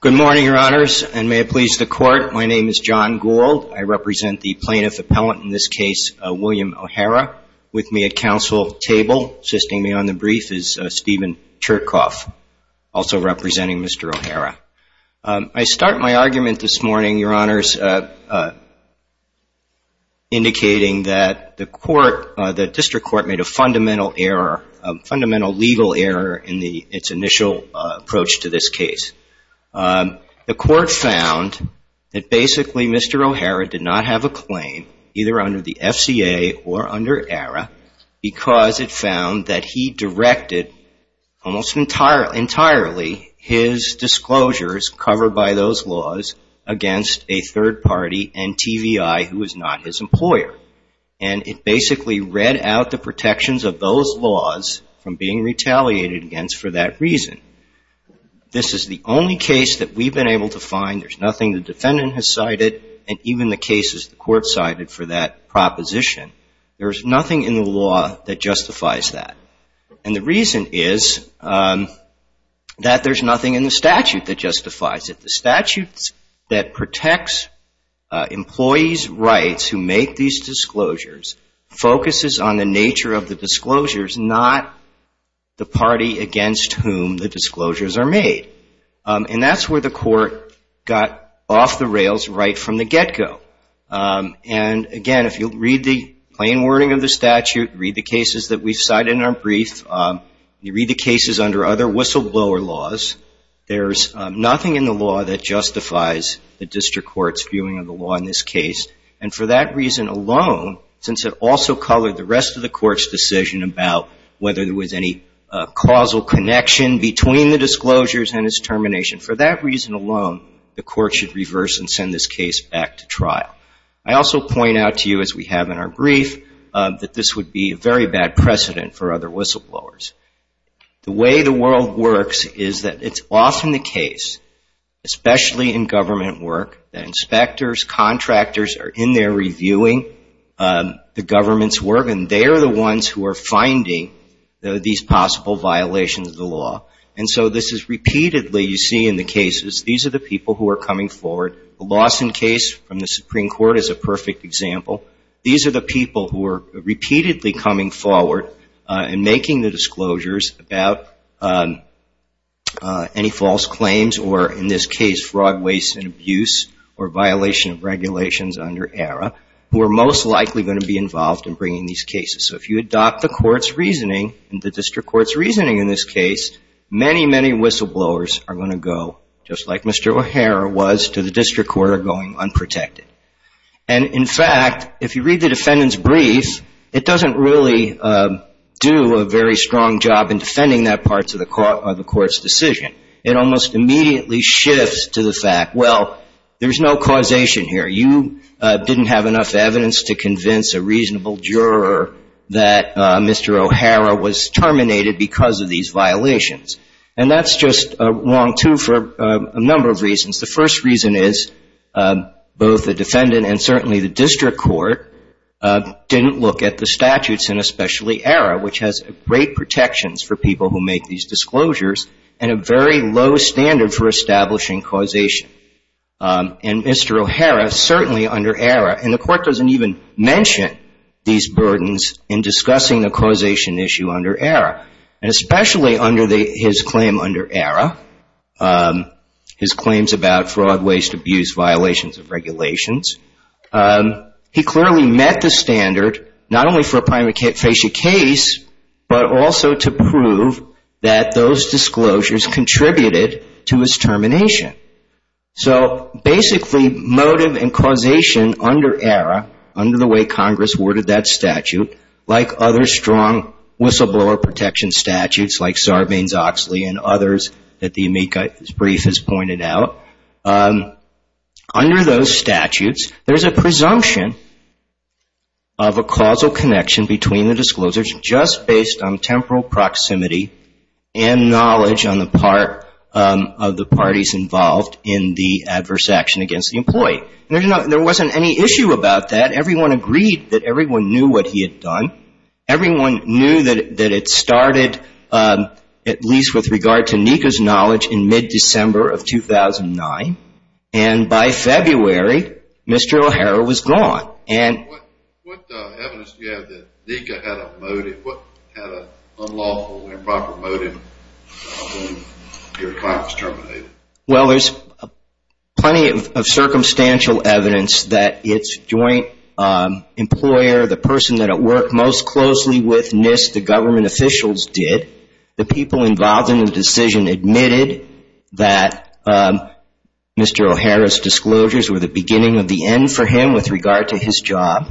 Good morning, Your Honors, and may it please the Court, my name is John Gould. I represent the plaintiff appellant in this case, William O'Hara. With me at counsel table, assisting me on the brief is Stephen Cherkoff, also representing Mr. O'Hara. I start my argument this morning, Your Honors, indicating that the District Court made a fundamental error, a fundamental legal error in its initial approach to this case. The Court found that basically Mr. O'Hara did not have a claim either under the FCA or under ARA because it found that he directed almost entirely his disclosures covered by those laws against a third party and TVI who was not his employer. And it basically read out the protections of those laws from being retaliated against for that reason. This is the only case that we've been able to find, there's nothing the defendant has cited, and even the cases the Court cited for that proposition, there's nothing in the law that justifies that. And the reason is that there's nothing in the statute that justifies it. The statute that protects employees' rights who make these disclosures focuses on the nature of the disclosures, not the party against whom the disclosures are made. And that's where the Court got off the rails right from the get-go. And again, if you'll read the plain wording of the statute, read the cases that we've cited in our brief, you read the cases under other whistleblower laws, there's nothing in the law that justifies the District Court's viewing of the law in this case. And for that reason alone, since it also colored the rest of the Court's decision about whether there was any causal connection between the disclosures and its termination, for that reason alone, the Court should reverse and send this case back to trial. I also point out to you, as we have in our brief, that this would be a very bad precedent for other whistleblowers. The way the world works is that it's often the case, especially in government work, that inspectors, contractors are in there reviewing the government's work, and they are the ones who are finding these possible violations of the law. And so this is repeatedly you see in the cases. These are the people who are coming forward. The Lawson case from the Supreme Court is a perfect example. These are the people who are repeatedly coming forward and making the disclosures about any false claims or, in this case, fraud, waste and abuse or violation of regulations under ERA, who are most likely going to be involved in bringing these cases. So if you adopt the Court's reasoning and the District Court's reasoning, you are going to go, just like Mr. O'Hara was, to the District Court, are going unprotected. And, in fact, if you read the defendant's brief, it doesn't really do a very strong job in defending that part of the Court's decision. It almost immediately shifts to the fact, well, there's no causation here. You didn't have enough evidence to convince a reasonable juror that Mr. O'Hara was terminated because of these violations. And that's just wrong, too, for a number of reasons. The first reason is both the defendant and certainly the District Court didn't look at the statutes, and especially ERA, which has great protections for people who make these disclosures and a very low standard for establishing causation. And Mr. O'Hara, certainly under ERA, and the Court doesn't even mention these burdens in his claims about fraud, waste, abuse, violations of regulations, he clearly met the standard not only for a prima facie case, but also to prove that those disclosures contributed to his termination. So, basically, motive and causation under ERA, under the way Congress worded that statute, like other strong whistleblower protection statutes, like Sarbanes-Oxley and others that the amicus brief has pointed out, under those statutes, there's a presumption of a causal connection between the disclosures just based on temporal proximity and knowledge on the part of the parties involved in the adverse action against the employee. There wasn't any issue about that. Everyone agreed that everyone knew what he had done. Everyone knew that it started, at least with regard to NECA's knowledge, in mid-December of 2009. And by February, Mr. O'Hara was gone. What evidence do you have that NECA had a motive, had an unlawful, improper motive when your client was terminated? Well, there's plenty of circumstantial evidence that its joint employer, the person that it most closely witnessed the government officials did, the people involved in the decision admitted that Mr. O'Hara's disclosures were the beginning of the end for him with regard to his job.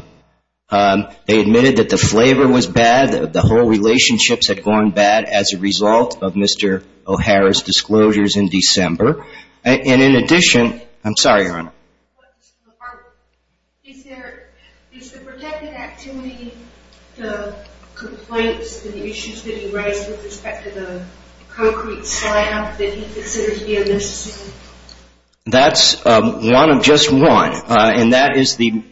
They admitted that the flavor was bad, that the whole relationships had gone bad as a result of Mr. O'Hara's disclosures in December. And in addition, I'm sorry, Your Honor. Is there, is the protected activity, the complaints, the issues that he raised with respect to the concrete slab that he considered to be a necessity? That's one of just one. And that is the,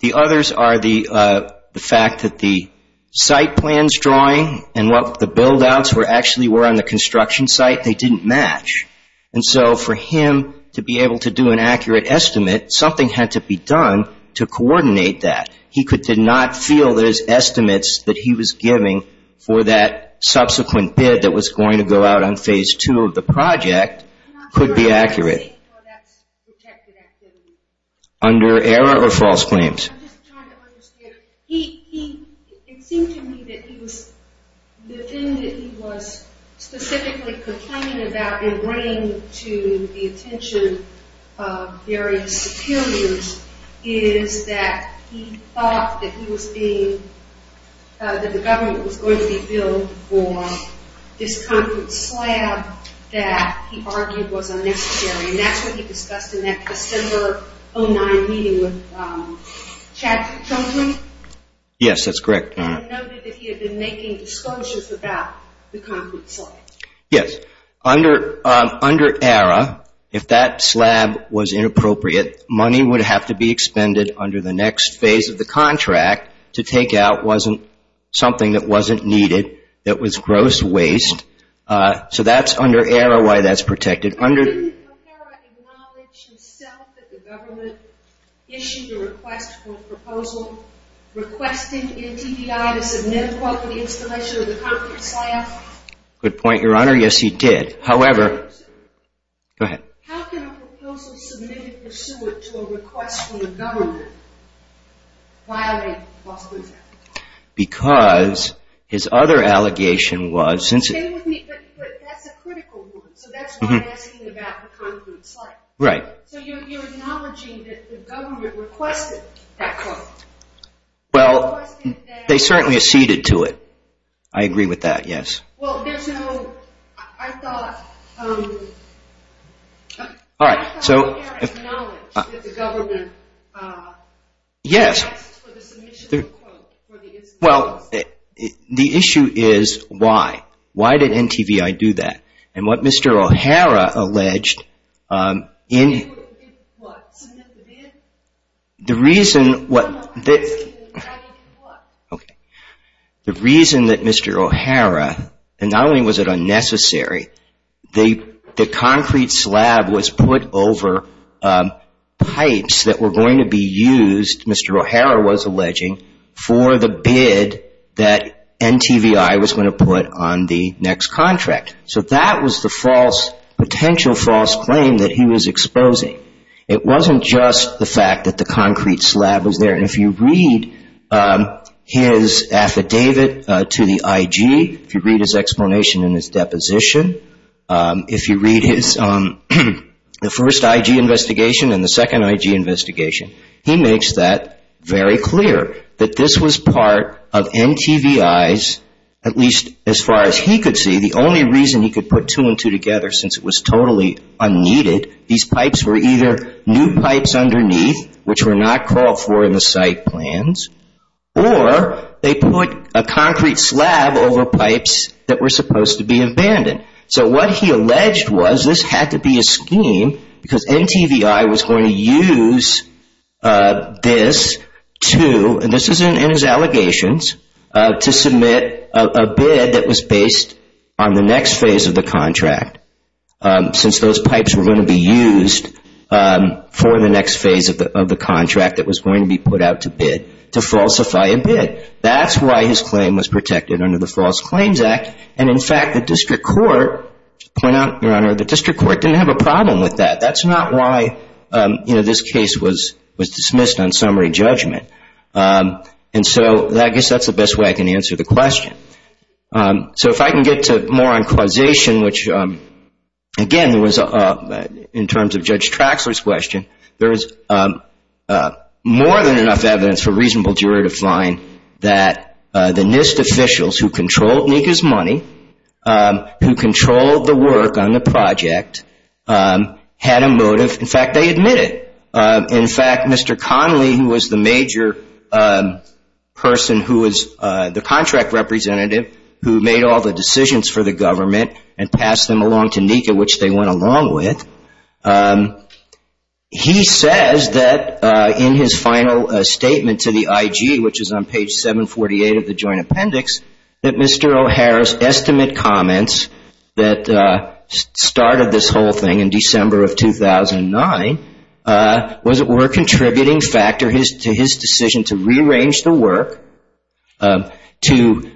the others are the fact that the site plans drawing and what the build-outs were actually were on the construction site, they didn't match. And so for him to be able to do an accurate estimate, something had to be done to coordinate that. He could, did not feel those estimates that he was giving for that subsequent bid that was going to go out on phase two of the project could be accurate. Under error or false claims? He, he, it seemed to me that he was, the thing that he was specifically complaining about according to the attention of various superiors is that he thought that he was being, that the government was going to be billed for this concrete slab that he argued was unnecessary. And that's what he discussed in that December of 09 meeting with Chad Chumlee. Yes, that's correct. And noted that he had been making disclosures about the concrete slab. Yes. Under, under error, if that slab was inappropriate, money would have to be expended under the next phase of the contract to take out wasn't something that wasn't needed, that was gross waste. So that's under error why that's protected. Didn't O'Hara acknowledge himself that the government issued a request for a proposal requesting NTDI to submit a quote for the installation of the concrete slab? Good point, Your Honor. Yes, he did. However... Go ahead. How can a proposal submitted pursuant to a request from the government violate false claims? Because his other allegation was... Stay with me, but that's a critical one. So that's why I'm asking about the concrete slab. Right. So you're, you're acknowledging that the government requested that quote. Well, they certainly acceded to it. I agree with that, yes. Well, there's no, I thought, I thought O'Hara acknowledged that the government... Yes. ...requested for the submission of the quote for the installation. Well, the issue is why. Why did NTDI do that? And what Mr. O'Hara alleged in... What? Submitted? The reason what... Okay. The reason that Mr. O'Hara, and not only was it unnecessary, the concrete slab was put over pipes that were going to be used, Mr. O'Hara was alleging, for the bid that NTDI was going to put on the next contract. So that was the false, potential false claim that he was exposing. It wasn't just the fact that the concrete slab was there. And if you read his affidavit to the IG, if you read his explanation in his deposition, if you read his, the first IG investigation and the second IG investigation, he makes that very clear, that this was part of NTDI's, at least as far as he could see, the only reason he could put two and two together, since it was totally unneeded, these pipes were either new pipes underneath, which were not called for in the site plans, or they put a concrete slab over pipes that were supposed to be abandoned. So what he alleged was, this had to be a scheme, because NTDI was going to use this to, and this is in his allegations, to submit a bid that was based on the next phase of the contract. Since those pipes were going to be used for the next phase of the contract that was going to be put out to bid, to falsify a bid. That's why his claim was protected under the False Claims Act. And in fact, the district court, to point out, Your Honor, the district court didn't have a problem with that. That's not why this case was dismissed on summary judgment. And so I guess that's the best way I can answer the question. So if I can get to more on causation, which, again, was in terms of Judge Traxler's question, there is more than enough evidence for a reasonable jury to find that the NIST officials who controlled Nika's money, who controlled the work on the project, had a motive. In fact, they admitted. In fact, Mr. Conley, who was the major person who was the contract representative, who made all the decisions for the government and passed them along to Nika, which they went along with, he says that in his final statement to the IG, which is on page 748 of the Joint Appendix, that Mr. O'Hara's estimate comments that started this whole thing in December of 2009 were a contributing factor to his decision to rearrange the work, to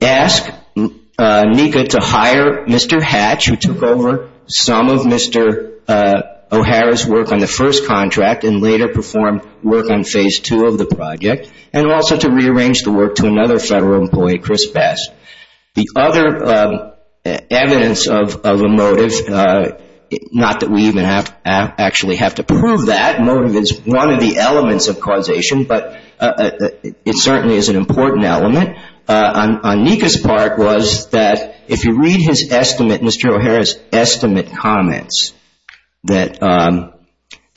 ask Nika to hire Mr. Hatch, who took over some of Mr. O'Hara's work on the first contract and later performed work on phase two of the project, and also to rearrange the work to another federal employee, Chris Best. The other evidence of a motive, not that we even actually have to prove that, motive is one of the elements of causation, but it certainly is an important element, on Nika's part was that if you read his estimate, Mr. O'Hara's estimate comments, that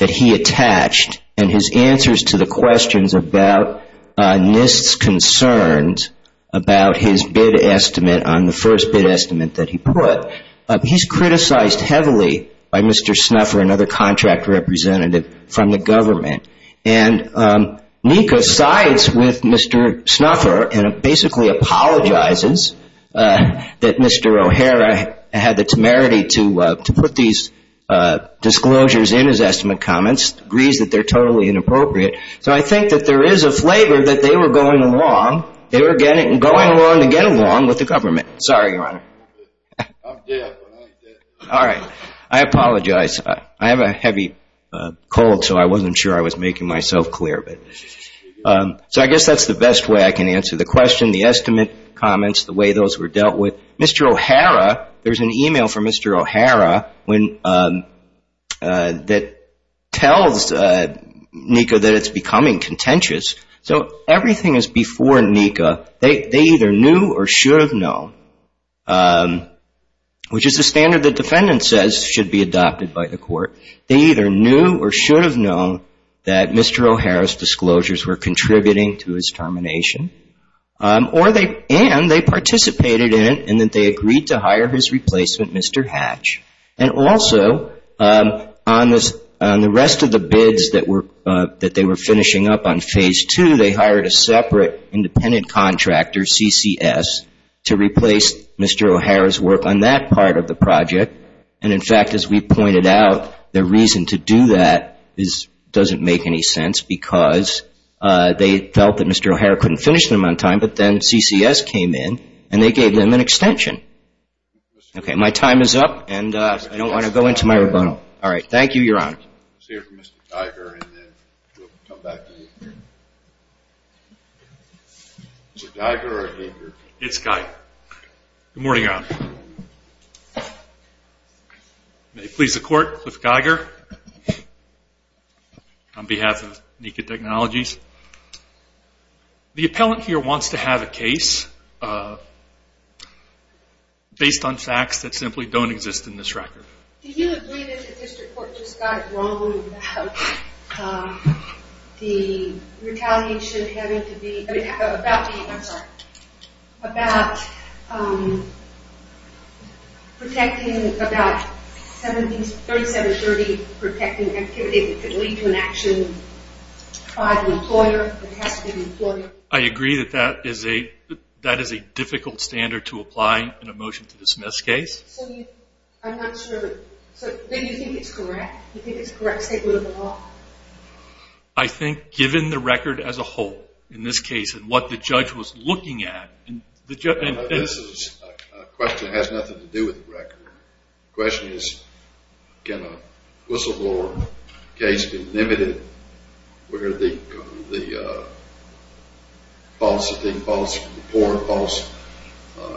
he attached, and his answers to the questions about NIST's concerns about his bid estimate on the first bid estimate that he put, he's criticized heavily by Mr. Snuffer, another contract representative from the government, and Nika sides with Mr. Snuffer and basically apologizes that Mr. O'Hara had the temerity to put these disclosures in his estimate comments, agrees that they're totally inappropriate. So I think that there is a flavor that they were going along, going along to get along with the government. Sorry, Your Honor. I apologize. I have a heavy cold, so I wasn't sure I was making myself clear. So I guess that's the best way I can answer the question, the estimate comments, the way those were dealt with. Mr. O'Hara, there's an email from Mr. O'Hara that tells Nika that it's becoming contentious. So everything is before Nika. They either knew or should have known, which is the standard the defendant says should be adopted by the court. They either knew or should have known that Mr. O'Hara's disclosures were contributing to his termination, and they participated in it and that they agreed to hire his replacement, Mr. Hatch. And also, on the rest of the bids that they were finishing up on Phase 2, they hired a separate independent contractor, CCS, to replace Mr. O'Hara's work on that part of the project. And in fact, as we pointed out, the reason to do that doesn't make any sense because they felt that Mr. O'Hara couldn't finish them on time, but then CCS came in and they gave them an extension. Okay, my time is up, and I don't want to go into my rebuttal. All right. Thank you, Your Honor. It's Geiger. Good morning, Your Honor. May it please the Court, Cliff Geiger on behalf of NECA Technologies. The appellant here wants to have a case based on facts that simply don't exist in this record. Do you agree that the district court just got it wrong about the retaliation having to be about the, I'm sorry, about protecting about 3730, protecting activity that could lead to an action by the employer that has to be the employer? I agree that that is a difficult standard to apply in a motion to dismiss case. So you, I'm not sure, do you think it's correct? Do you think it's correct to take a little bit off? I think given the record as a whole, in this case, and what the judge was looking at, and this is a question that has nothing to do with the record. The question is can a whistleblower case be limited where the false report, false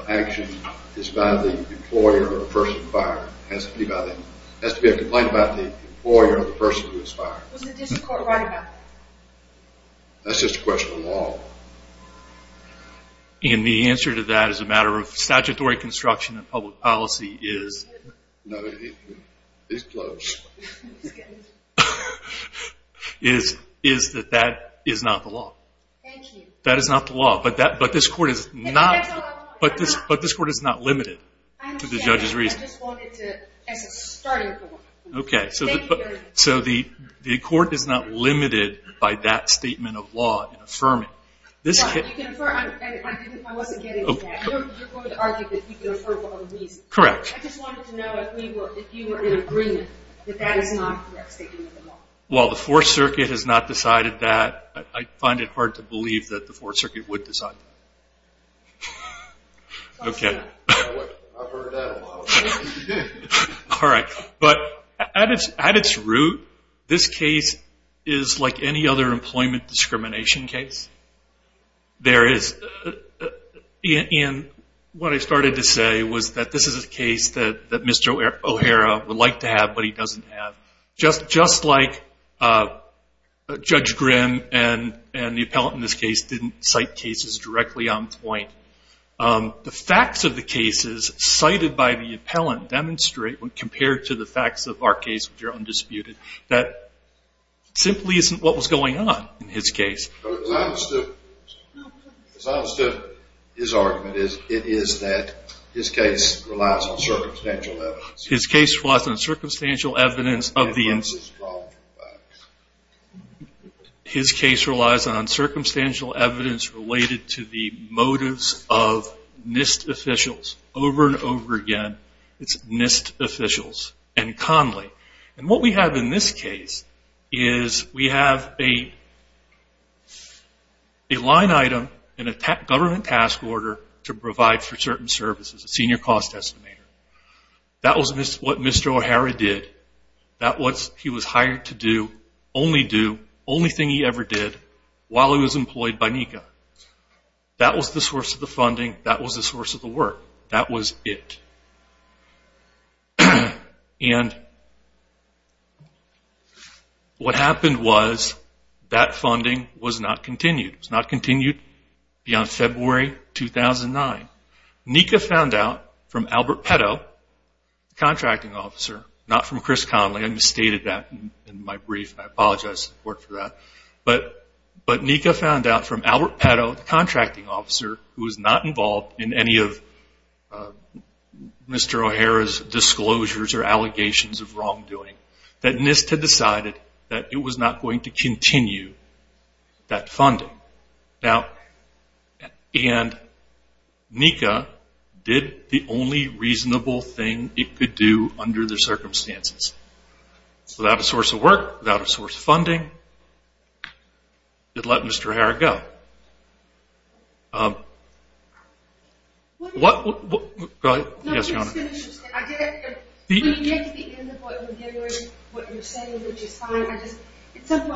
action is by the employer or the person who fired it. That's just a question of law. And the answer to that is a matter of statutory construction and public policy is that that is not the law. That is not the law. But this court is not limited to the judge's reason. As a starting point. So the court is not limited by that statement of law in affirming. I wasn't getting to that. You're going to argue that you can affirm for all the reasons. I just wanted to know if you were in agreement that that is not the right statement of the law. Well, the Fourth Circuit has not decided that. I find it hard to believe that the Fourth Circuit would decide that. I've heard that a lot. But at its root, this case is like any other employment discrimination case. There is. And what I started to say was that this is a case that Mr. O'Hara would like to have but he doesn't have. Just like Judge Grimm and the appellant in this case didn't cite cases directly on point. The facts of the cases cited by the appellant demonstrate when compared to the facts of our case, which are undisputed, that simply isn't what was going on in his case. As I understood his argument, it is that his case relies on circumstantial evidence. His case relies on circumstantial evidence. His case relies on circumstantial evidence related to the motives of NIST officials over and over again. It's NIST officials and Conley. And what we have in this case is we have a line item in a government task order to provide for certain services, a senior cost estimator. That was what Mr. O'Hara did. That was what he was hired to do, only do, only thing he ever did while he was employed by NECA. That was the source of the funding. That was the source of the work. That was it. What happened was that funding was not continued. It was not continued beyond February 2009. NECA found out from Albert Petto, the contracting officer, not from Chris Conley. I misstated that in my brief. I apologize for that. But NECA found out from Albert Petto, the contracting officer, who was not involved in any of Mr. O'Hara's disclosures or allegations of wrongdoing, that NIST had decided that it was not going to continue that funding. And NECA did the only reasonable thing it could do under the circumstances. Without a source of work, without a source of funding, it let Mr. O'Hara go. What I was going to say is that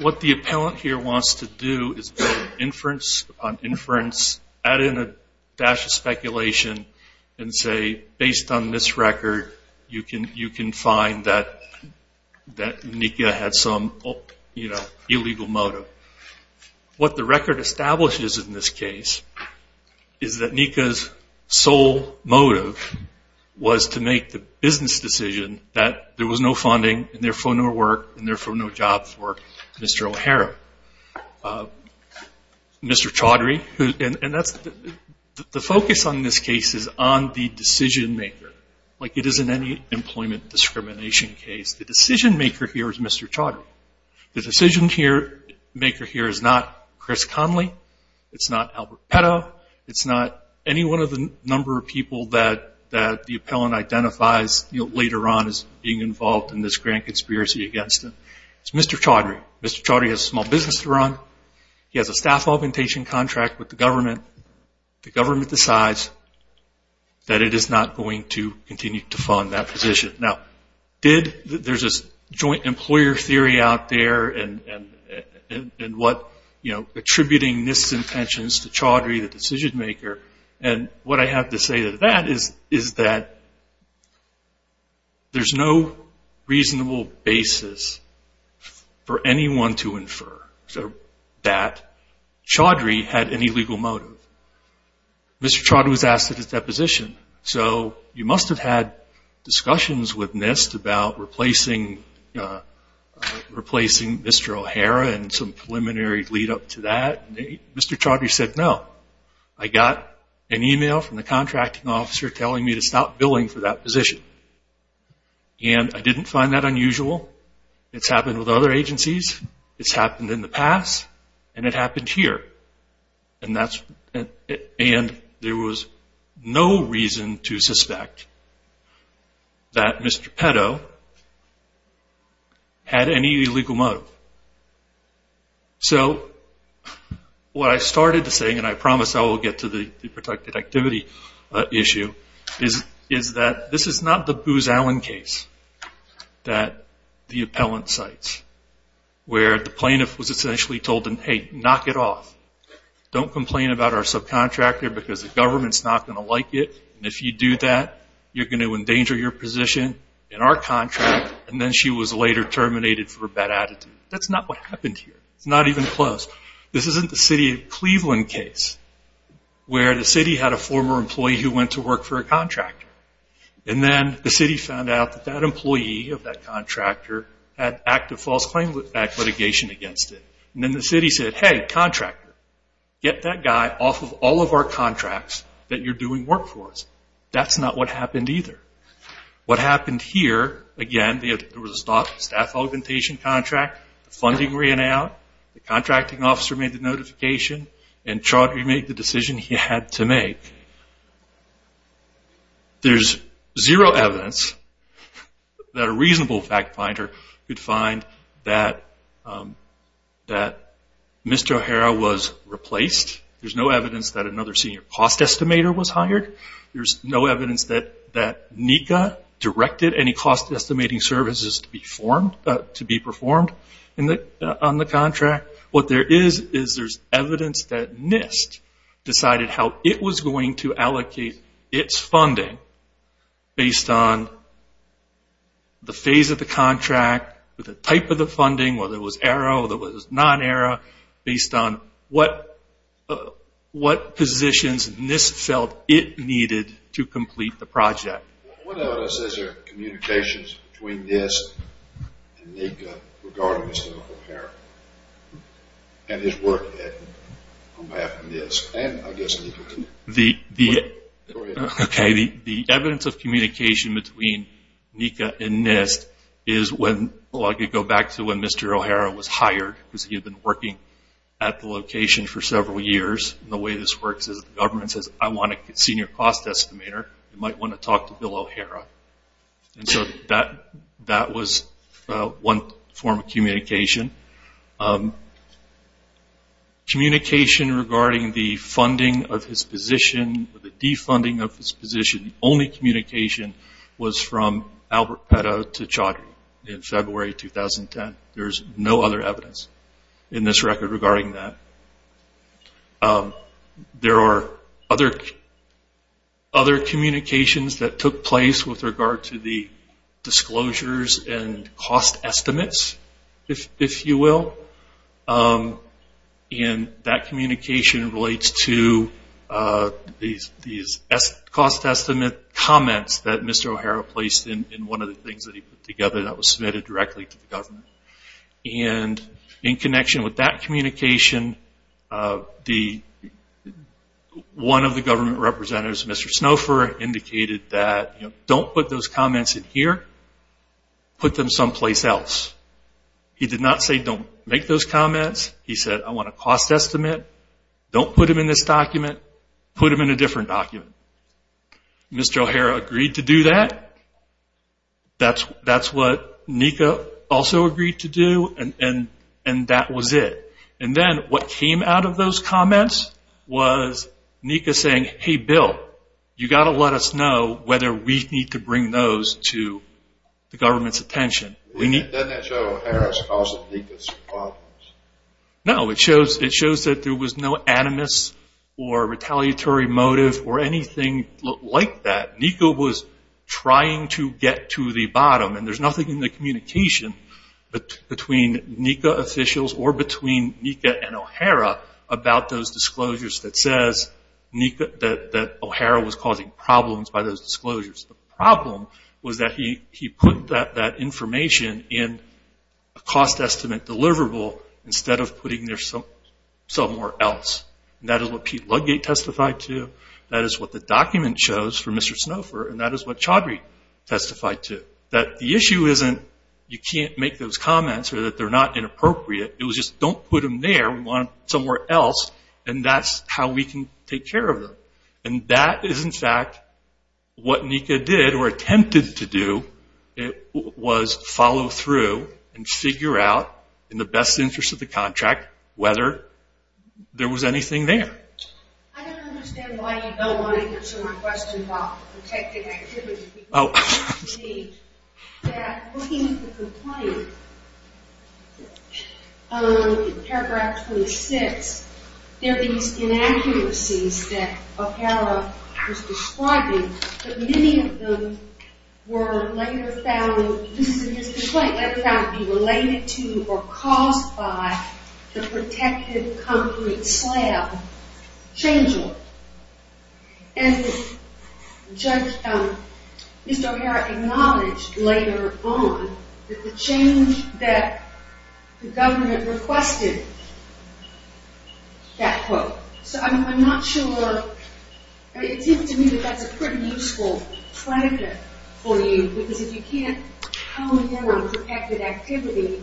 what the appellant here wants to do is build inference upon inference, add in a dash of speculation and say, based on this record, you can find that NECA had some illegal motive. What the record establishes in this case is that NECA's sole motive was to make the business decision that there was no funding and therefore no work and therefore no job for Mr. O'Hara. Mr. Chaudhry, the focus on this case is on the decision maker. Like it is in any employment discrimination case. The decision maker here is Mr. Chaudhry. The decision maker here is not Chris Conley, it's not Albert Petto, it's not any one of the number of people that the appellant identifies later on as being involved in this grand conspiracy against him. It's Mr. Chaudhry. Mr. Chaudhry has a small business to run. He has a staff augmentation contract with the government. The government decides that it is not going to continue to fund that position. Now, there's this joint employer theory out there and attributing NIST's intentions to Chaudhry, the decision maker, and what I have to say to that is that there's no reasonable basis for any of this. There's no reason for anyone to infer that Chaudhry had any legal motive. Mr. Chaudhry was asked at his deposition, so you must have had discussions with NIST about replacing Mr. O'Hara and some preliminary lead up to that. Mr. Chaudhry said no. I got an email from the contracting officer telling me to stop billing for that position. And I didn't find that unusual. It's happened with other agencies. It's happened in the past. And it happened here. And there was no reason to suspect that Mr. Petto had any legal motive. So what I started to say, and I promise I will get to the protected activity issue, is that this is not the Booz Allen case that the appellant cites where the plaintiff was essentially told, hey, knock it off. Don't complain about our subcontractor because the government's not going to like it. And if you do that, you're going to endanger your position in our contract. And then she was later terminated for a bad attitude. That's not what happened here. It's not even close. This isn't the city of Cleveland case where the city had a former employee who went to work for a contractor. And then the city found out that that employee of that contractor had active false claim litigation against it. And then the city said, hey, contractor, get that guy off of all of our contracts that you're doing work for us. That's not what happened either. What happened here, again, there was a staff augmentation contract. Funding ran out. The contracting officer made the notification. And Chaudhry made the decision he had to make. There's zero evidence that a reasonable fact finder could find that Mr. O'Hara was replaced. There's no evidence that another senior cost estimator was hired. There's no evidence that NECA directed any cost estimating services to be performed on the contract. What there is, is there's evidence that NIST decided how it was going to allocate its funding based on the phase of the contract, the type of the funding, whether it was AERO, whether it was non-AERO, based on what positions NIST felt it needed to complete the project. What evidence is there of communications between NIST and NECA regarding Mr. O'Hara? And his work on behalf of NIST? The evidence of communication between NECA and NIST is when, well I could go back to when Mr. O'Hara was hired, because he had been working at the location for several years. The way this works is the government says, I want a senior cost estimator, you might want to talk to Bill O'Hara. And so that was one form of communication. Communication regarding the funding of his position, the defunding of his position, the only communication was from Albert Petto to Chaudhry in February 2010. There's no other evidence in this record regarding that. There are other communications that took place with regard to the disclosures and cost estimates, if you will. And that communication relates to these cost estimate comments that Mr. O'Hara placed in one of the things that he put together that was submitted directly to the government. And in connection with that communication, one of the government representatives, Mr. Snowfer, indicated that, don't put those comments in here, put them someplace else. He did not say don't make those comments. He said, I want a cost estimate, don't put them in this document, put them in a different document. Mr. O'Hara agreed to do that. That's what NECA also agreed to do. And that was it. And then what came out of those comments was NECA saying, hey, Bill, you've got to let us know whether we need to bring those to the government's attention. No, it shows that there was no animus or retaliatory motive or anything like that. NECA was trying to get to the bottom. And there's nothing in the communication between NECA officials or between NECA and O'Hara about those disclosures that says that O'Hara was causing problems by those disclosures. The problem was that he put that information in a cost estimate deliverable instead of putting it somewhere else. And that is what Pete Ludgate testified to. That is what the document shows for Mr. Snowfer, and that is what Chaudhry testified to. That the issue isn't you can't make those comments or that they're not inappropriate. It was just don't put them there, we want them somewhere else, and that's how we can take care of them. And that is, in fact, what NECA did or attempted to do. It was follow through and figure out in the best interest of the contract whether there was anything there. And Mr. O'Hara acknowledged later on that the change that the government requested, that quote. So I'm not sure, it seems to me that that's a pretty useful predictive for you. Because if you can't come in on protected activity,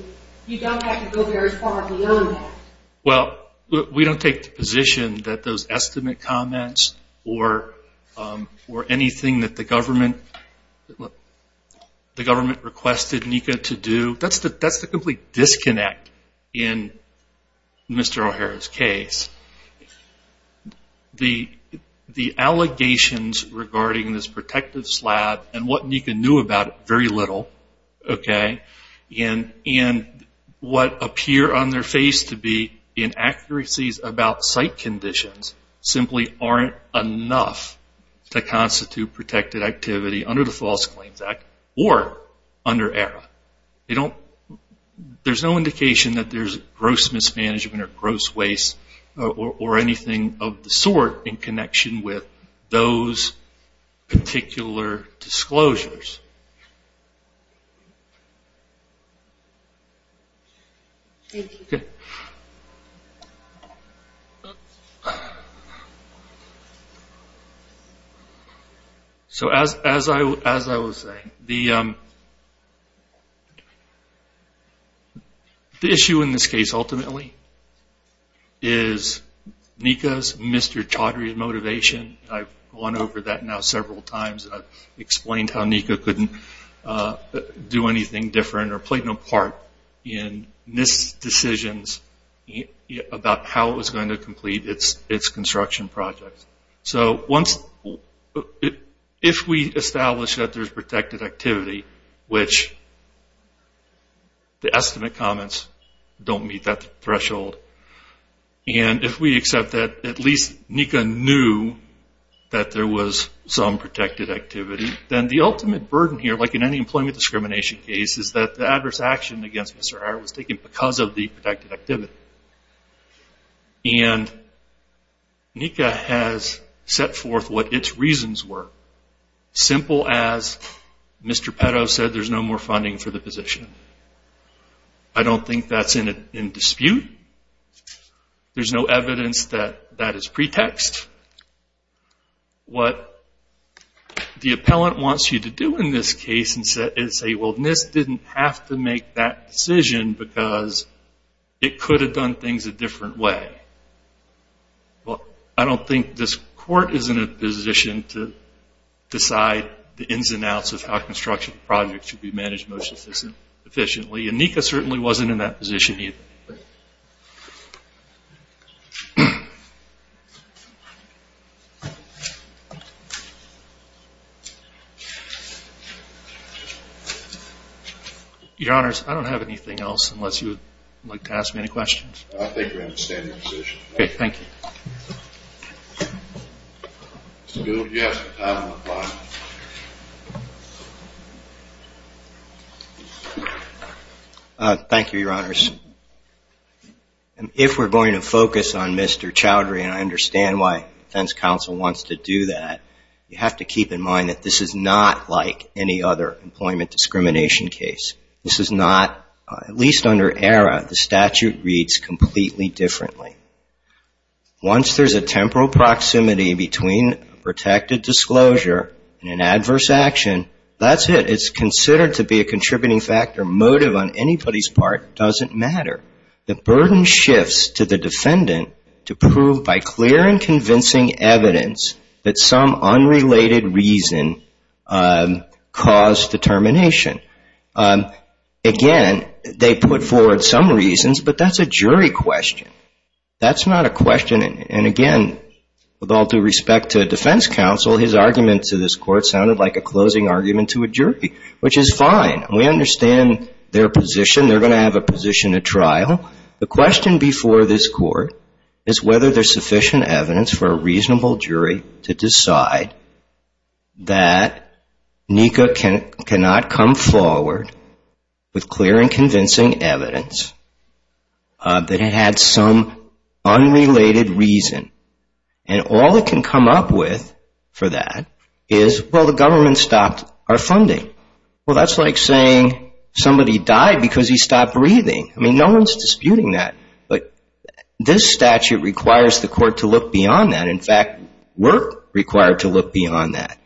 you don't have to go very far beyond that. Well, we don't take the position that those estimate comments or anything that the government requested NECA to do, that's the complete disconnect in Mr. O'Hara's case. The allegations regarding this protective slab and what NECA knew about it, very little. And what appear on their face to be inaccuracies about site conditions simply aren't enough to constitute protected activity under the False Claims Act or under ERA. There's no indication that there's gross mismanagement or gross waste or anything of the sort in connection with those particular disclosures. So as I was saying, the issue in this case ultimately is NECA's, Mr. Chaudhary's motivation. I've gone over that now several times and I've explained how NECA couldn't do anything different or play no part in NIST's decisions about how it was going to complete its construction projects. If we establish that there's protected activity, which the estimate comments don't meet that threshold, and if we accept that at least NECA knew that there was some protected activity, then the ultimate burden here, like in any employment discrimination case, is that the adverse action against Mr. O'Hara was taken because of the protected activity. And NECA has set forth what its reasons were, simple as Mr. Petto said there's no more funding for the position. I don't think that's in dispute. There's no evidence that that is pretext. What the appellant wants you to do in this case is say, well, NIST didn't have to make that decision because it could have done things a different way. I don't think this court is in a position to decide the ins and outs of how construction projects should be managed most efficiently, and NECA certainly wasn't in that position either. Your Honors, I don't have anything else unless you would like to ask me any questions. I think we're in a standing position. Okay, thank you. Thank you, Your Honors. If we're going to focus on Mr. Chowdhury, and I understand why defense counsel wants to do that, you have to keep in mind that this is not like any other employment discrimination case. This is not, at least under ERA, the statute reads completely differently. Once there's a temporal proximity between protected disclosure and an adverse action, that's it. It's considered to be a contributing factor, motive on anybody's part doesn't matter. The burden shifts to the defendant to prove by clear and convincing evidence that some unrelated reason caused determination. Again, they put forward some reasons, but that's a jury question. That's not a question, and again, with all due respect to defense counsel, his argument to this court sounded like a closing argument to a jury, which is fine. We understand their position. They're going to have a position at trial. The question before this court is whether there's sufficient evidence for a reasonable jury to decide that NICA cannot come forward with clear and convincing evidence that it had some unrelated reason. And all it can come up with for that is, well, the government stopped our funding. Well, that's like saying somebody died because he stopped breathing. I mean, no one's disputing that, but this statute requires the court to look beyond that. In fact, we're required to look beyond that.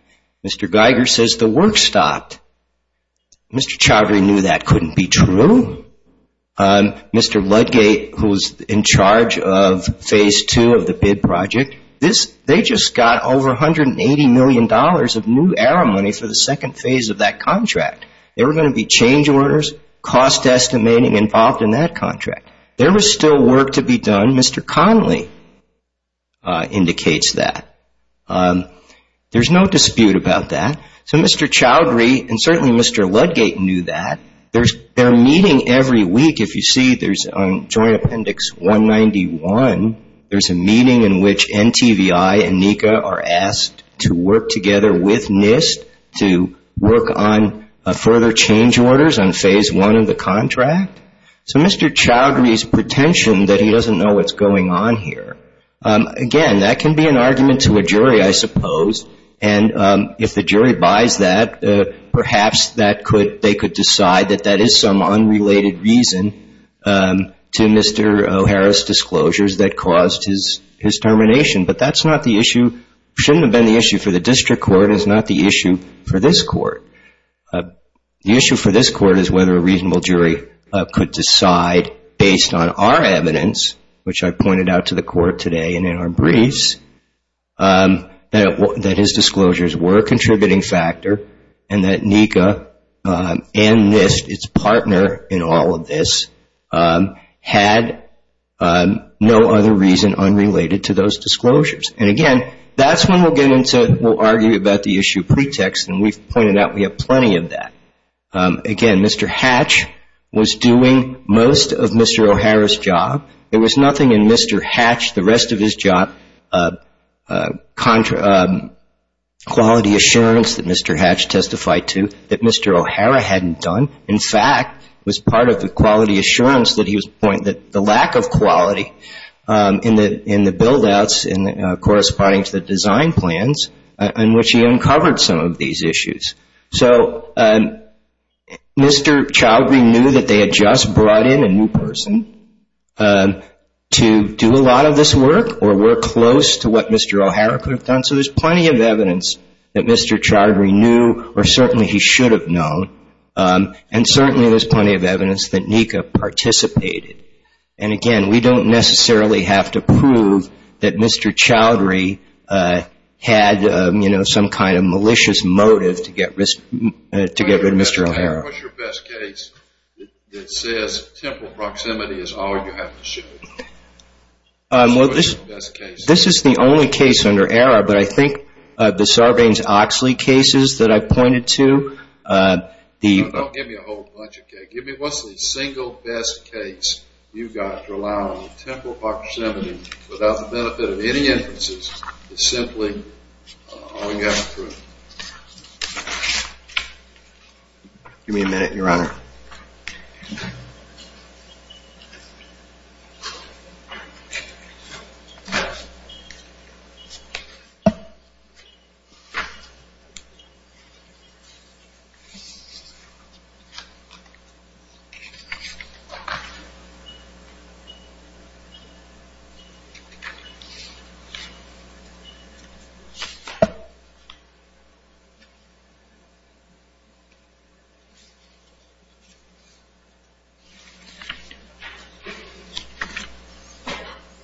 Mr. Geiger says the work stopped. Mr. Chaudhry knew that couldn't be true. Mr. Ludgate, who was in charge of phase two of the bid project, they just got over $180 million of new era money for the second phase of that contract. There were going to be change orders, cost estimating involved in that contract. There was still work to be done. Mr. Connolly indicates that. There's no dispute about that. So Mr. Chaudhry and certainly Mr. Ludgate knew that. Their meeting every week, if you see, there's on Joint Appendix 191, there's a meeting in which NTVI and NICA are asked to work together with NIST to work on further change orders on phase one of the contract. So Mr. Chaudhry's pretension that he doesn't know what's going on here. Again, that can be an argument to a jury, I suppose. And if the jury buys that, perhaps they could decide that that is some unrelated reason to Mr. O'Hara's disclosures that caused his termination. But that's not the issue. Shouldn't have been the issue for the district court. It's not the issue for this court. The issue for this court is whether a reasonable jury could decide, based on our evidence, which I pointed out to the court today and in our briefs, that his disclosures were a contributing factor and that NICA and NIST, its partner in all of this, had no other reason unrelated to those disclosures. And again, that's when we'll get into, we'll argue about the issue of pretext, and we've pointed out we have plenty of that. Again, Mr. Hatch was doing most of Mr. O'Hara's job. There was nothing in Mr. Hatch, the rest of his job, quality assurance that Mr. Hatch testified to that Mr. O'Hara hadn't done. In fact, it was part of the quality assurance that he was pointing, that the lack of quality in the build-outs, corresponding to the design plans, in which he uncovered some of these issues. So Mr. Chowdhury knew that they had just brought in a new person to do a lot of this work, or were close to what Mr. O'Hara could have done. So there's plenty of evidence that Mr. Chowdhury knew, or certainly he should have known, and certainly there's plenty of evidence that NICA participated. And again, we don't necessarily have to prove that Mr. Chowdhury had some kind of malicious motive to get rid of Mr. O'Hara. What's your best case that says temporal proximity is all you have to show? This is the only case under error, but I think the Sarbanes-Oxley cases that I pointed to, Don't give me a whole bunch of cases. Give me what's the single best case you've got to allow temporal proximity without the benefit of any inferences to simply all you have to prove. Give me a minute, Your Honor.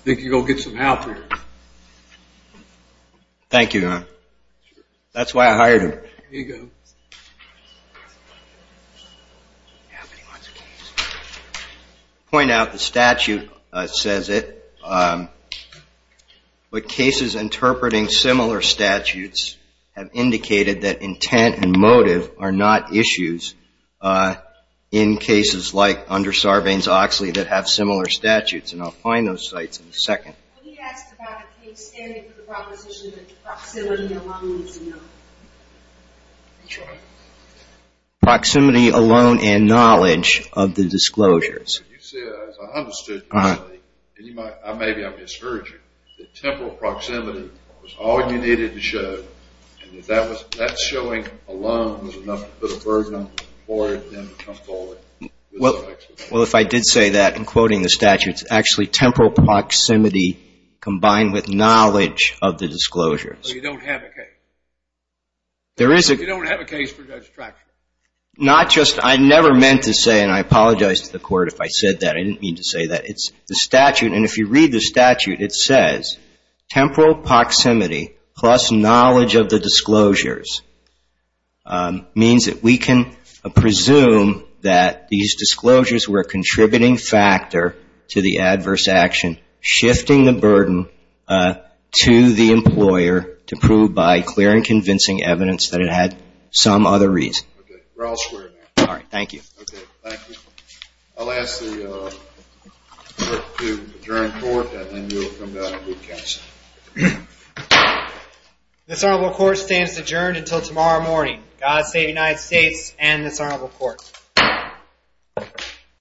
I think you can go get some help here. Thank you, Your Honor. Point out the statute says it, but cases interpreting similar statutes have indicated that intent and motive are not issues in cases like under Sarbanes-Oxley that have similar statutes, and I'll find those sites in a second. Let me ask about the case standing for the proposition that proximity alone is enough. Proximity alone and knowledge of the disclosures. You said, as I understood you to say, and maybe I misheard you, that temporal proximity was all you needed to show, and that that showing alone was enough to put a burden on the employer for them to come forward. Well, if I did say that in quoting the statute, it's actually temporal proximity combined with knowledge of the disclosures. So you don't have a case. You don't have a case for judge traction. Not just, I never meant to say, and I apologize to the Court if I said that. I didn't mean to say that. It's the statute, and if you read the statute, it says temporal proximity plus knowledge of the disclosures means that we can presume that these disclosures were a contributing factor to the adverse action, shifting the burden to the employer to prove by clear and convincing evidence that it had some other reason. Okay. We're all square now. All right. Thank you. Okay. Thank you. I'll ask the Court to adjourn court, and then you'll come down and do counsel.